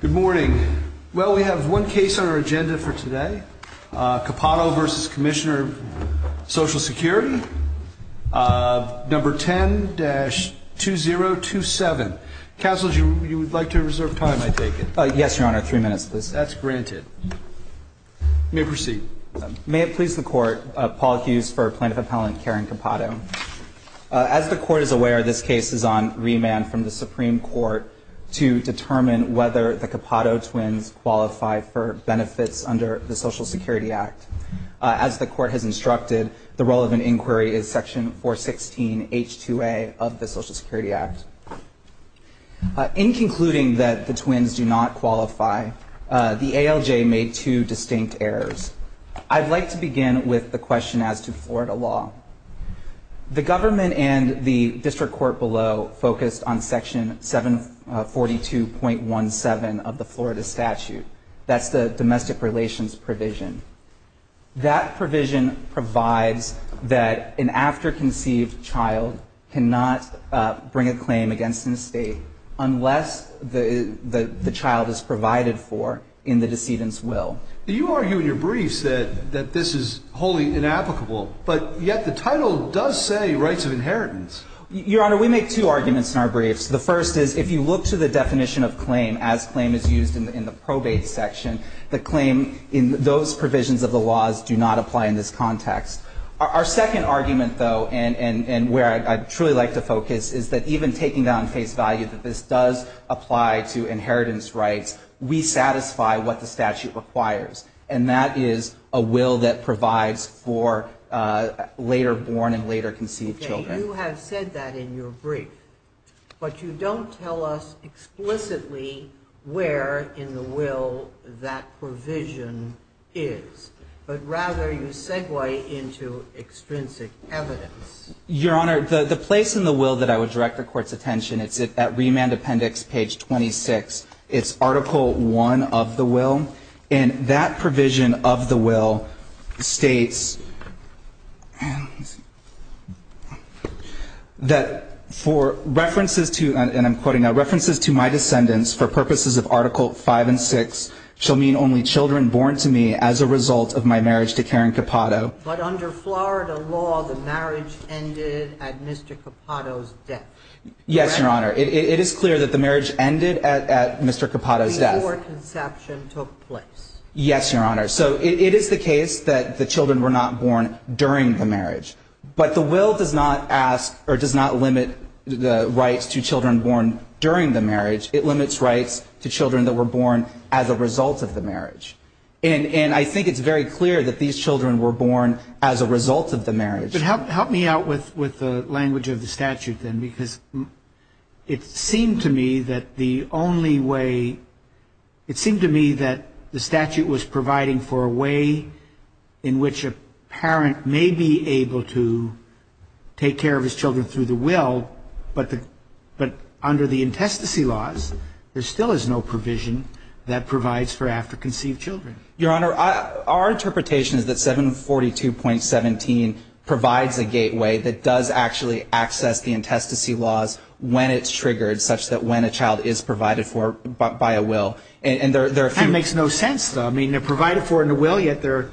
Good morning. Well, we have one case on our agenda for today. Capato v. Commissioner of Social Security. Number 10-2027. Counsel, you would like to reserve time, I take it? Yes, Your Honor. Three minutes, please. That's granted. You may proceed. May it please the Court, Paul Hughes for Plaintiff Appellant Karen Capato. As the Court is aware, this case is on remand from the Supreme Court to determine whether the Capato twins qualify for benefits under the Social Security Act. As the Court has instructed, the relevant inquiry is Section 416H2A of the Social Security Act. In concluding that the twins do not qualify, the ALJ made two distinct errors. I'd like to begin with the question as to Florida law. The government and the district court below focused on Section 742.17 of the Florida statute. That's the domestic relations provision. That provision provides that an after-conceived child cannot bring a claim against an estate unless the child is provided for in the decedent's will. You argue in your briefs that this is wholly inapplicable, but yet the title does say rights of inheritance. Your Honor, we make two arguments in our briefs. The first is if you look to the definition of claim as claim is used in the probate section, the claim in those provisions of the laws do not apply in this context. Our second argument, though, and where I'd truly like to focus, is that even taking down face value that this does apply to inheritance rights, we satisfy what the statute requires. And that is a will that provides for later born and later conceived children. You have said that in your brief, but you don't tell us explicitly where in the will that provision is, but rather you segue into extrinsic evidence. Your Honor, the place in the will that I would direct the Court's attention, it's at remand appendix page 26. It's article one of the will, and that provision of the will states that for references to, and I'm quoting now, references to my descendants for purposes of article five and six shall mean only children born to me as a result of my marriage to Karen Capado. But under Florida law, the marriage ended at Mr. Capado's death. Yes, Your Honor. It is clear that the marriage ended at Mr. Capado's death. Before conception took place. Yes, Your Honor. So it is the case that the children were not born during the marriage. But the will does not ask or does not limit the rights to children born during the marriage. It limits rights to children that were born as a result of the marriage. And I think it's very clear that these children were born as a result of the marriage. But help me out with the language of the statute then, because it seemed to me that the only way, it seemed to me that the statute was providing for a way in which a parent may be able to take care of his children through the will, but under the intestacy laws, there still is no provision that provides for after conceived children. Your Honor, our interpretation is that 742.17 provides a gateway that does actually access the intestacy laws when it's triggered, such that when a child is provided for by a will. That makes no sense, though. I mean, they're provided for in a will, yet they're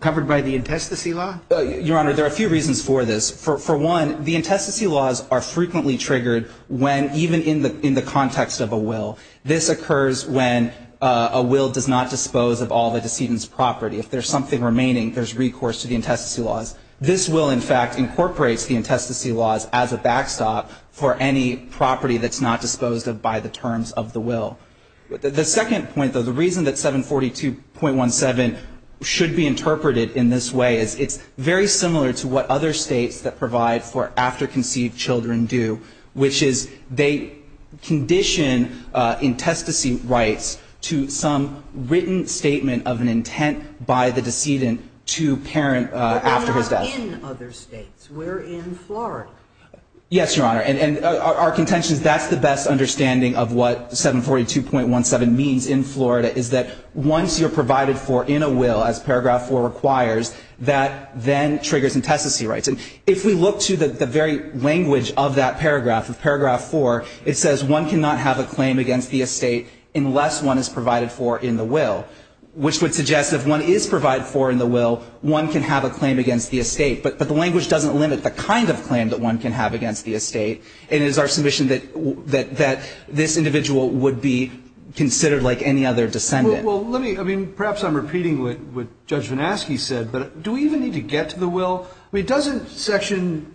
covered by the intestacy law? Your Honor, there are a few reasons for this. For one, the intestacy laws are frequently triggered when even in the context of a will. This occurs when a will does not dispose of all the decedent's property. If there's something remaining, there's recourse to the intestacy laws. This will, in fact, incorporates the intestacy laws as a backstop for any property that's not disposed of by the terms of the will. The second point, though, the reason that 742.17 should be interpreted in this way is it's very similar to what other states that provide for after conceived children do, which is they condition intestacy rights to some written statement of an intent by the decedent to parent after his death. But we're not in other states. We're in Florida. Yes, Your Honor. And our contention is that's the best understanding of what 742.17 means in Florida, is that once you're provided for in a will, as Paragraph 4 requires, that then triggers intestacy rights. And if we look to the very language of that paragraph, of Paragraph 4, it says one cannot have a claim against the estate unless one is provided for in the will, which would suggest if one is provided for in the will, one can have a claim against the estate. But the language doesn't limit the kind of claim that one can have against the estate, and it is our submission that this individual would be considered like any other decedent. Well, let me, I mean, perhaps I'm repeating what Judge Van Aske said, but do we even need to get to the will? I mean, doesn't Section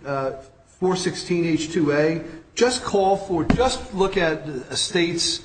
416H2A just call for just look at a state's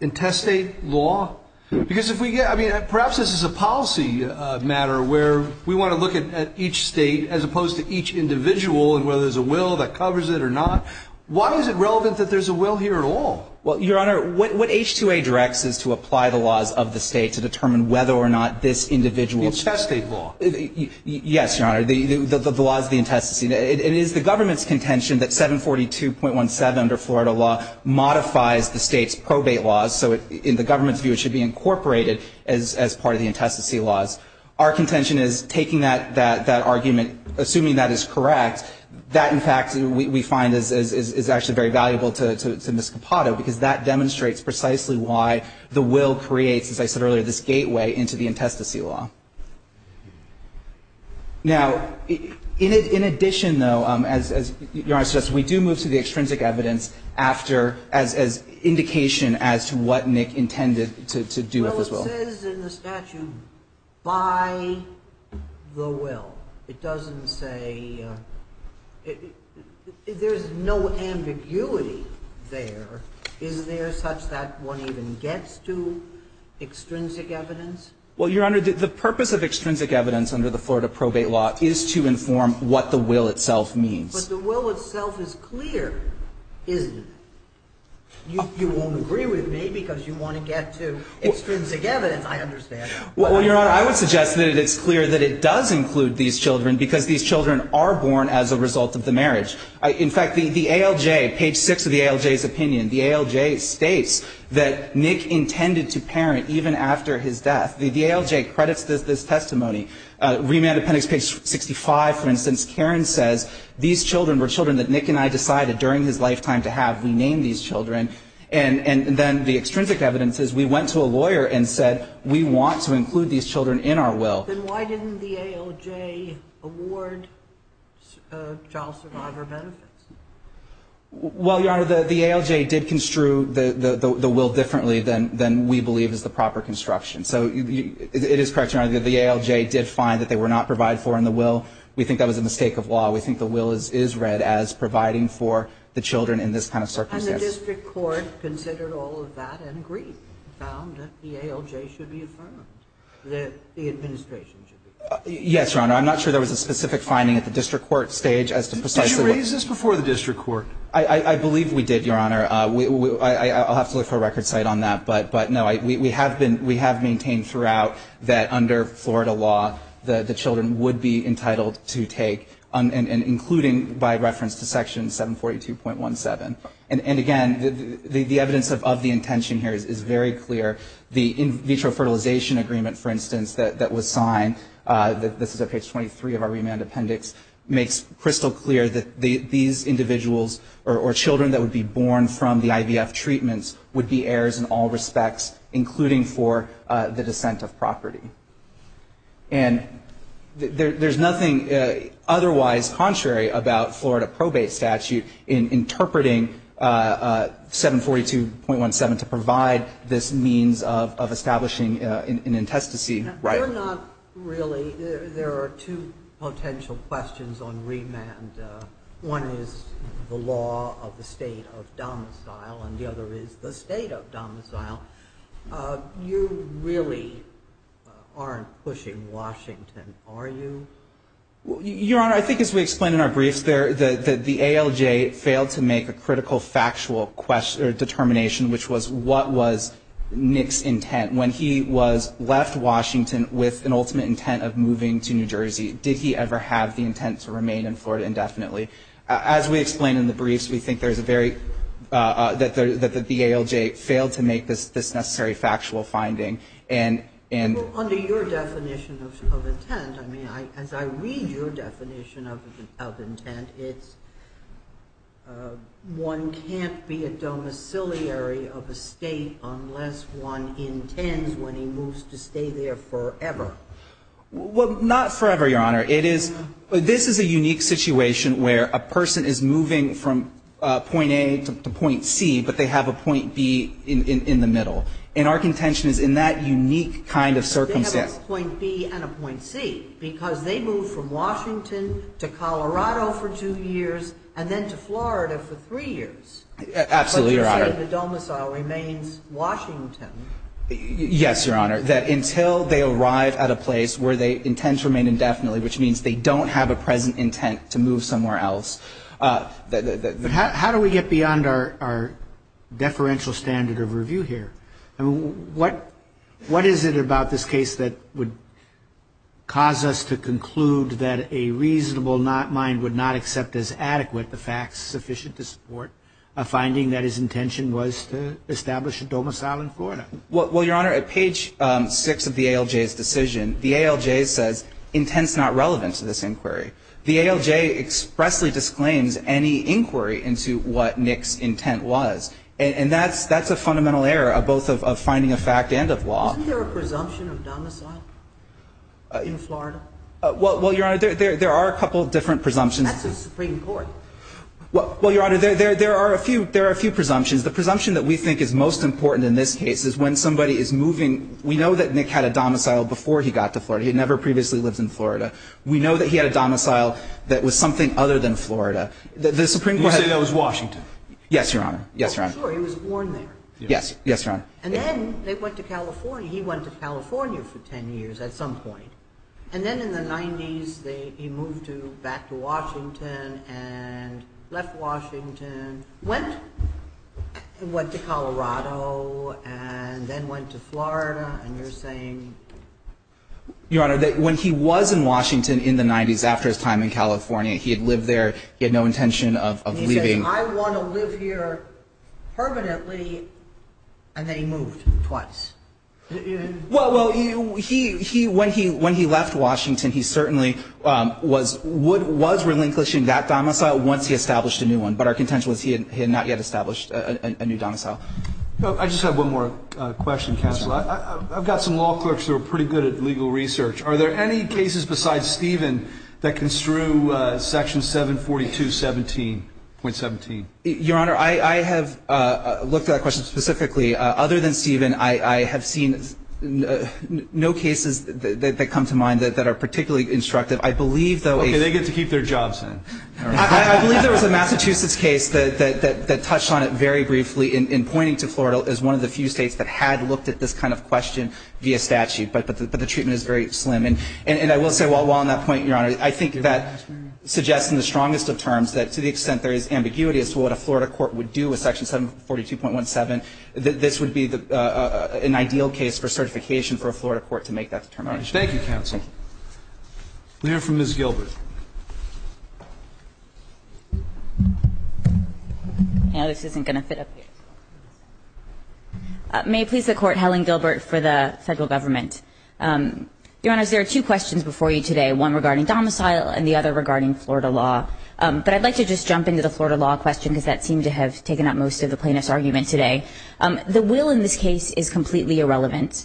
intestate law? Because if we get, I mean, perhaps this is a policy matter where we want to look at each state as opposed to each individual and whether there's a will that covers it or not. Why is it relevant that there's a will here at all? Well, Your Honor, what H2A directs is to apply the laws of the state to determine whether or not this individual's Intestate law. Yes, Your Honor. The laws of the intestacy. It is the government's contention that 742.17 under Florida law modifies the state's probate laws. So in the government's view, it should be incorporated as part of the intestacy laws. Our contention is taking that argument, assuming that is correct, that, in fact, we find is actually very valuable to Ms. Capato because that demonstrates precisely why the will creates, as I said earlier, this gateway into the intestacy law. Now, in addition, though, as Your Honor suggests, we do move to the extrinsic evidence after as indication as to what Nick intended to do with this will. Well, it says in the statute, by the will. It doesn't say there's no ambiguity there. Is there such that one even gets to extrinsic evidence? Well, Your Honor, the purpose of extrinsic evidence under the Florida probate law is to inform what the will itself means. But the will itself is clear, isn't it? You won't agree with me because you want to get to extrinsic evidence. I understand. Well, Your Honor, I would suggest that it's clear that it does include these children because these children are born as a result of the marriage. In fact, the ALJ, page 6 of the ALJ's opinion, the ALJ states that Nick intended to parent even after his death. The ALJ credits this testimony. Remand Appendix, page 65, for instance, Karen says these children were children that Nick and I decided during his lifetime to have. We named these children. And then the extrinsic evidence is we went to a lawyer and said we want to include these children in our will. Then why didn't the ALJ award child survivor benefits? Well, Your Honor, the ALJ did construe the will differently than we believe is the proper construction. So it is correct, Your Honor, that the ALJ did find that they were not provided for in the will. We think that was a mistake of law. We think the will is read as providing for the children in this kind of circumstance. And the district court considered all of that and agreed, found that the ALJ should be affirmed, that the administration should be affirmed. Yes, Your Honor. I'm not sure there was a specific finding at the district court stage as to precisely who was the child survivor. Was there a process before the district court? I believe we did, Your Honor. I'll have to look for a record site on that. But no, we have maintained throughout that under Florida law, the children would be entitled to take, including by reference to section 742.17. And again, the evidence of the intention here is very clear. The in vitro fertilization agreement, for instance, that was signed, this is at page 23 of our remand appendix, makes crystal clear that these individuals or children that would be born from the IVF treatments would be heirs in all respects, including for the descent of property. And there's nothing otherwise contrary about Florida probate statute in interpreting 742.17 to provide this means of establishing an intestacy. Your Honor, there are two potential questions on remand. One is the law of the state of domicile, and the other is the state of domicile. You really aren't pushing Washington, are you? Your Honor, I think as we explained in our briefs, the ALJ failed to make a critical factual determination, which was what was Nick's intent. When he was left Washington with an ultimate intent of moving to New Jersey, did he ever have the intent to remain in Florida indefinitely? As we explained in the briefs, we think there's a very — that the ALJ failed to make this necessary factual finding. And — Well, under your definition of intent, I mean, as I read your definition of intent, it's one can't be a domiciliary of a state unless one intends when he moves to stay there forever. Well, not forever, Your Honor. It is — this is a unique situation where a person is moving from point A to point C, but they have a point B in the middle. And our contention is in that unique kind of circumstance. But they have a point B and a point C, because they moved from Washington to Colorado for two years and then to Florida for three years. Absolutely, Your Honor. But you're saying the domicile remains Washington. Yes, Your Honor. That until they arrive at a place where they intend to remain indefinitely, which means they don't have a present intent to move somewhere else. But how do we get beyond our deferential standard of review here? I mean, what is it about this case that would cause us to conclude that a reasonable mind would not accept as adequate the facts sufficient to support a finding that his intention was to establish a domicile in Florida? Well, Your Honor, at page 6 of the ALJ's decision, the ALJ says intent is not relevant to this inquiry. The ALJ expressly disclaims any inquiry into what Nick's intent was. And that's a fundamental error, both of finding a fact and of law. Isn't there a presumption of domicile in Florida? Well, Your Honor, there are a couple of different presumptions. That's the Supreme Court. Well, Your Honor, there are a few presumptions. The presumption that we think is most important in this case is when somebody is moving. We know that Nick had a domicile before he got to Florida. He had never previously lived in Florida. We know that he had a domicile that was something other than Florida. The Supreme Court has You say that was Washington. Yes, Your Honor. Yes, Your Honor. Sure, he was born there. Yes. Yes, Your Honor. And then they went to California. He went to California for 10 years at some point. And then in the 90s, he moved back to Washington and left Washington. Went to Colorado and then went to Florida. And you're saying Your Honor, when he was in Washington in the 90s, after his time in California, he had lived there. He had no intention of leaving. He says, I want to live here permanently. And then he moved twice. Well, when he left Washington, he certainly was relinquishing that domicile once he established a new one. But our contention was he had not yet established a new domicile. I just have one more question, Counselor. I've got some law clerks who are pretty good at legal research. Are there any cases besides Stephen that construe Section 742.17? Your Honor, I have looked at that question specifically. Other than Stephen, I have seen no cases that come to mind that are particularly instructive. I believe, though, a Okay, they get to keep their jobs then. I believe there was a Massachusetts case that touched on it very briefly in pointing to Florida as one of the few states that had looked at this kind of question via statute. But the treatment is very slim. And I will say while on that point, Your Honor, I think that suggests in the strongest of terms that to the extent there is ambiguity as to what a Florida court would do with Section 742.17, that this would be an ideal case for certification for a Florida court to make that determination. Thank you, Counsel. We'll hear from Ms. Gilbert. I know this isn't going to fit up here. May it please the Court, Helen Gilbert for the Federal Government. Your Honor, there are two questions before you today, one regarding domicile and the other regarding Florida law. But I'd like to just jump into the Florida law question because that seemed to have taken up most of the plaintiff's argument today. The will in this case is completely irrelevant.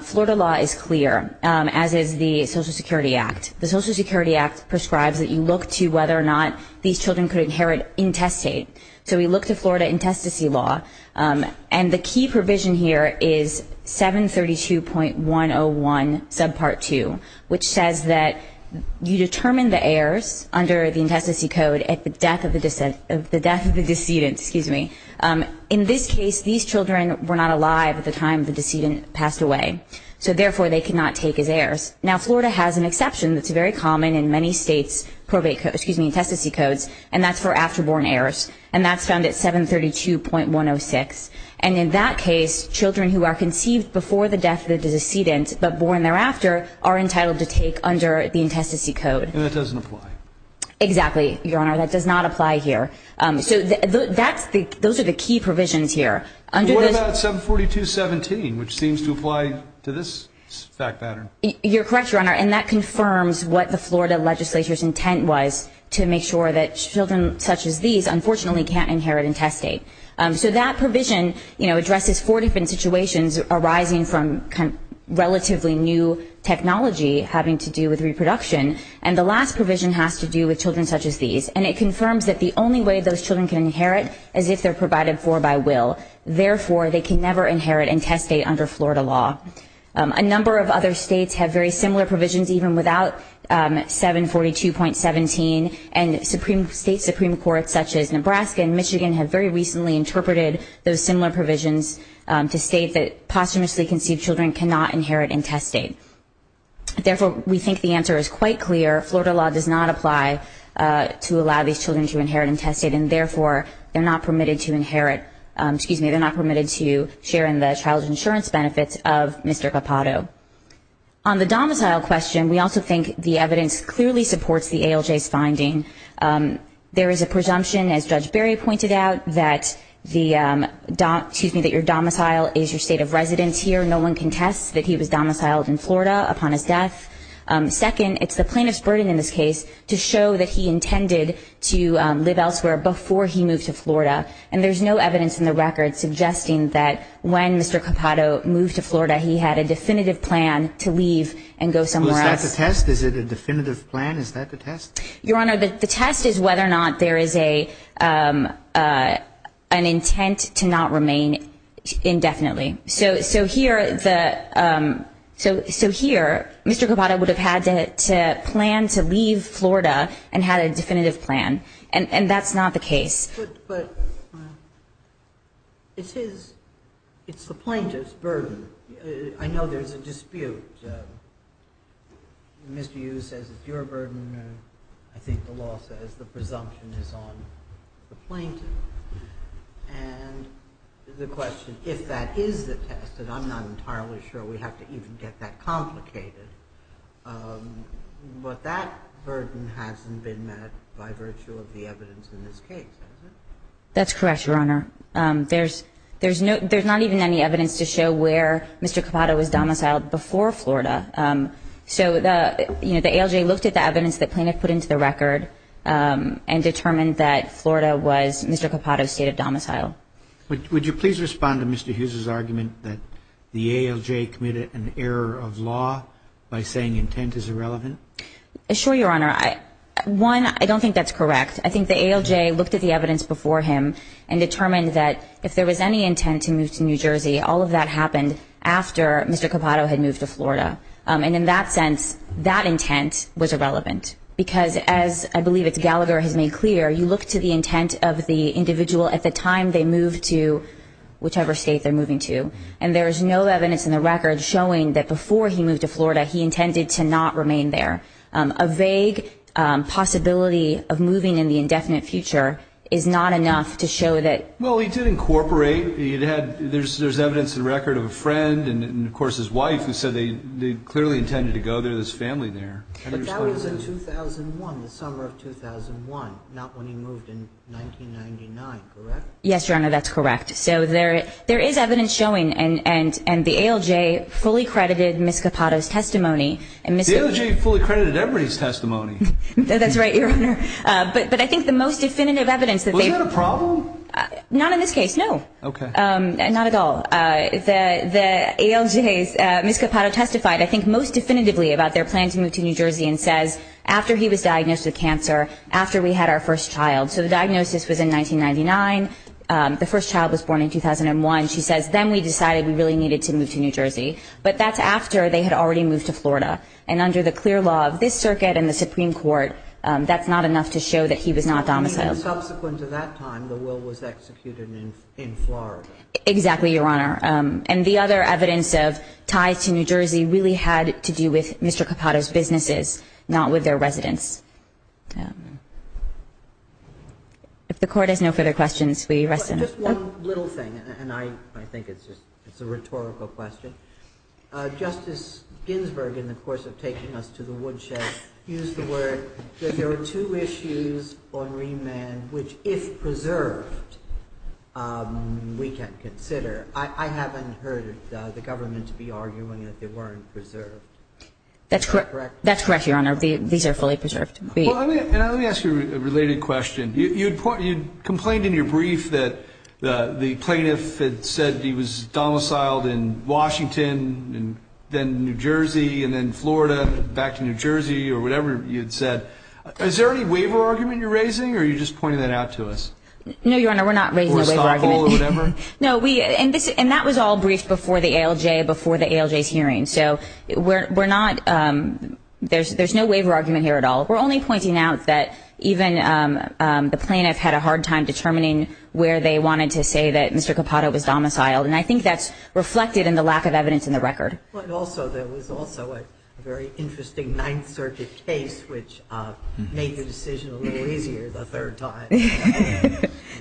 Florida law is clear, as is the Social Security Act. The Social Security Act prescribes that you look to whether or not these children could inherit intestate. So we look to Florida intestacy law. And the key provision here is 732.101 subpart 2, which says that you determine the heirs under the intestacy code at the death of the decedent. In this case, these children were not alive at the time the decedent passed away. So therefore, they cannot take as heirs. Now, Florida has an exception that's very common in many states, intestacy codes, and that's for after-born heirs. And that's found at 732.106. And in that case, children who are conceived before the death of the decedent but born thereafter are entitled to take under the intestacy code. And that doesn't apply. Exactly, Your Honor. That does not apply here. So those are the key provisions here. What about 742.17, which seems to apply to this fact pattern? You're correct, Your Honor. And that confirms what the Florida legislature's intent was to make sure that children such as these unfortunately can't inherit intestate. So that provision addresses four different situations arising from relatively new technology having to do with reproduction. And the last provision has to do with children such as these. And it confirms that the only way those children can inherit is if they're provided for by will. Therefore, they can never inherit intestate under Florida law. A number of other states have very similar provisions, even without 742.17, and state Supreme Courts such as Nebraska and Michigan have very recently interpreted those similar provisions to state that posthumously conceived children cannot inherit intestate. Therefore, we think the answer is quite clear. Florida law does not apply to allow these children to inherit intestate, and therefore they're not permitted to inherit, excuse me, they're not permitted to share in the child insurance benefits of Mr. Capato. On the domicile question, we also think the evidence clearly supports the ALJ's finding. There is a presumption, as Judge Berry pointed out, that the, excuse me, that your domicile is your state of residence here. No one contests that he was domiciled in Florida upon his death. Second, it's the plaintiff's burden in this case to show that he intended to live elsewhere before he moved to Florida. And there's no evidence in the record suggesting that when Mr. Capato moved to Florida, he had a definitive plan to leave and go somewhere else. Is that the test? Is it a definitive plan? Is that the test? Your Honor, the test is whether or not there is an intent to not remain indefinitely. So here, Mr. Capato would have had to plan to leave Florida and had a definitive plan, and that's not the case. But it's his, it's the plaintiff's burden. I know there's a dispute. Mr. Hughes says it's your burden. I think the law says the presumption is on the plaintiff. And the question, if that is the test, and I'm not entirely sure we have to even get that complicated, but that burden hasn't been met by virtue of the evidence in this case, has it? That's correct, Your Honor. There's not even any evidence to show where Mr. Capato was domiciled before Florida. So the ALJ looked at the evidence the plaintiff put into the record and determined that Florida was Mr. Capato's state of domicile. Would you please respond to Mr. Hughes' argument that the ALJ committed an error of law by saying intent is irrelevant? Sure, Your Honor. One, I don't think that's correct. I think the ALJ looked at the evidence before him and determined that if there was any intent to move to New Jersey, all of that happened after Mr. Capato had moved to Florida. And in that sense, that intent was irrelevant. Because as I believe it's Gallagher has made clear, you look to the intent of the individual at the time they moved to whichever state they're moving to, and there's no evidence in the record showing that before he moved to Florida, he intended to not remain there. A vague possibility of moving in the indefinite future is not enough to show that Well, he did incorporate. There's evidence in the record of a friend and, of course, his wife who said they clearly intended to go there. There's family there. But that was in 2001, the summer of 2001, not when he moved in 1999, correct? Yes, Your Honor, that's correct. So there is evidence showing, and the ALJ fully credited Mr. Capato's testimony. The ALJ fully credited Everett's testimony. That's right, Your Honor. But I think the most definitive evidence that they've Was that a problem? Not in this case, no. Okay. Not at all. The ALJ's, Mr. Capato testified, I think, most definitively about their plan to move to New Jersey and says, after he was diagnosed with cancer, after we had our first child. So the diagnosis was in 1999. The first child was born in 2001. She says, then we decided we really needed to move to New Jersey. But that's after they had already moved to Florida. And under the clear law of this circuit and the Supreme Court, that's not enough to show that he was not domiciled. Subsequent to that time, the will was executed in Florida. Exactly, Your Honor. And the other evidence of ties to New Jersey really had to do with Mr. Capato's businesses, not with their residents. If the Court has no further questions, we rest in peace. Just one little thing, and I think it's a rhetorical question. Justice Ginsburg, in the course of taking us to the woodshed, used the word that there were two issues on remand which, if preserved, we can consider. I haven't heard the government to be arguing that they weren't preserved. Is that correct? That's correct, Your Honor. These are fully preserved. Well, let me ask you a related question. You complained in your brief that the plaintiff had said he was domiciled in Washington, and then New Jersey, and then Florida, back to New Jersey, or whatever you'd said. Is there any waiver argument you're raising, or are you just pointing that out to us? No, Your Honor, we're not raising a waiver argument. Or a stop call or whatever? No, we – and that was all briefed before the ALJ, before the ALJ's hearing. So we're not – there's no waiver argument here at all. We're only pointing out that even the plaintiff had a hard time determining where they wanted to say that Mr. Capato was domiciled. And I think that's reflected in the lack of evidence in the record. Also, there was also a very interesting Ninth Circuit case which made the decision a little easier the third time.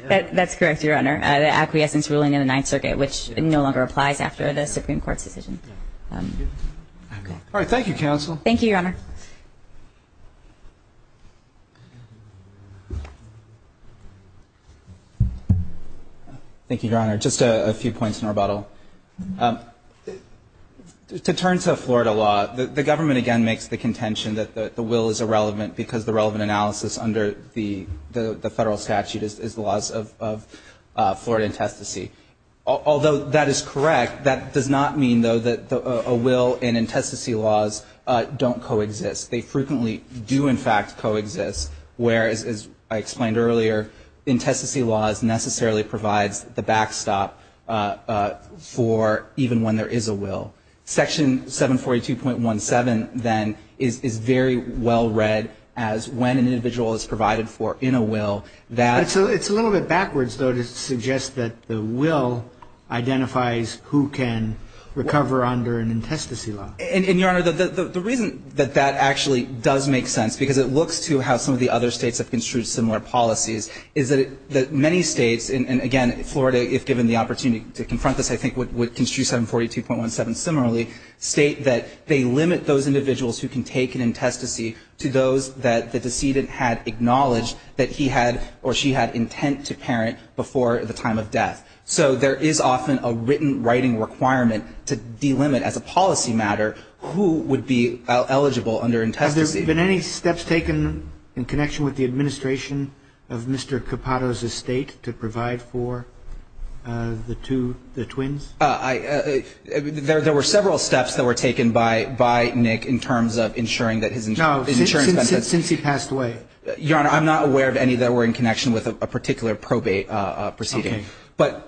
That's correct, Your Honor. The acquiescence ruling in the Ninth Circuit, which no longer applies after the Supreme Court's decision. All right. Thank you, counsel. Thank you, Your Honor. Thank you, Your Honor. Just a few points in rebuttal. To turn to the Florida law, the government, again, makes the contention that the will is irrelevant because the relevant analysis under the federal statute is the Florida intestacy. Although that is correct, that does not mean, though, that a will and intestacy laws don't coexist. They frequently do, in fact, coexist, whereas, as I explained earlier, intestacy laws necessarily provides the backstop for even when there is a will. Section 742.17, then, is very well read as when an individual is provided for in a will. It's a little bit backwards, though, to suggest that the will identifies who can recover under an intestacy law. And, Your Honor, the reason that that actually does make sense, because it looks to how some of the other states have construed similar policies, is that many states, and again, Florida, if given the opportunity to confront this, I think, would construe 742.17 similarly, state that they limit those individuals who can take an intestacy to those that the decedent had acknowledged that he had or she had intent to parent before the time of death. So there is often a written writing requirement to delimit as a policy matter who would be eligible under intestacy. Have there been any steps taken in connection with the administration of Mr. Capato's estate to provide for the twins? There were several steps that were taken by Nick in terms of ensuring that his insurance benefits. No. Since he passed away. Your Honor, I'm not aware of any that were in connection with a particular probate proceeding. Okay. But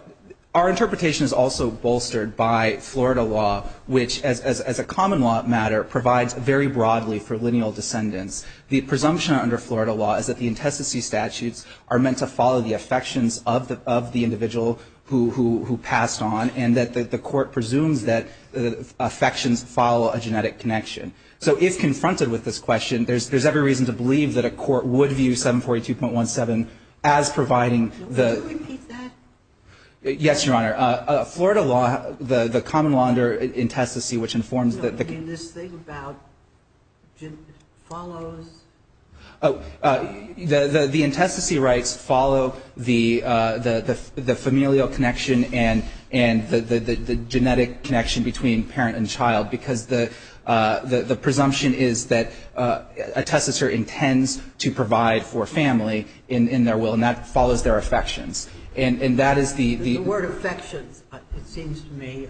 our interpretation is also bolstered by Florida law, which, as a common law matter, provides very broadly for lineal descendants. The presumption under Florida law is that the intestacy statutes are meant to follow the affections of the individual who passed on and that the court presumes that affections follow a genetic connection. So if confronted with this question, there's every reason to believe that a court would view 742.17 as providing the. Can you repeat that? Yes, Your Honor. Florida law, the common law under intestacy, which informs that the. I mean, this thing about follows. The intestacy rights follow the familial connection and the genetic connection between parent and child, because the presumption is that a testature intends to provide for family in their will, and that follows their affections. And that is the. The word affections, it seems to me,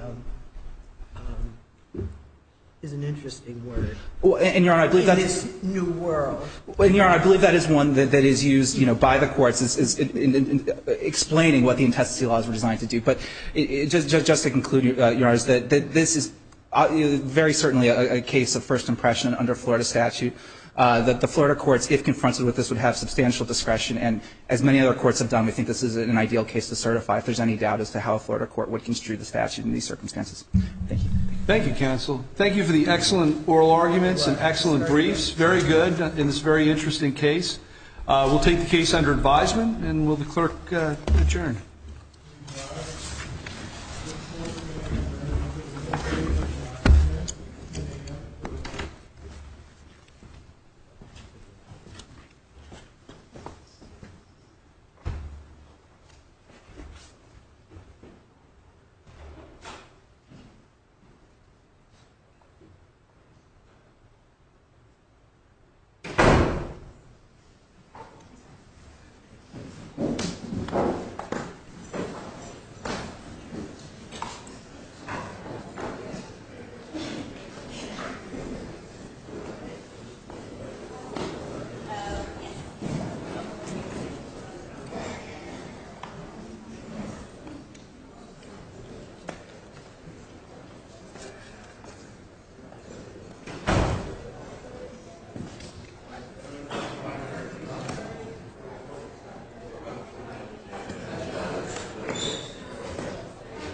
is an interesting word. And, Your Honor, I believe that's. And, Your Honor, I believe that is one that is used by the courts in explaining what the intestacy laws were designed to do. But just to conclude, Your Honor, is that this is very certainly a case of first impression under Florida statute, that the Florida courts, if confronted with this, would have substantial discretion. And as many other courts have done, we think this is an ideal case to certify if there's any doubt as to how a Florida court would construe the statute in these circumstances. Thank you. Thank you, counsel. Thank you for the excellent oral arguments and excellent briefs. Very good in this very interesting case. We'll take the case under advisement, and will the clerk adjourn. Thank you.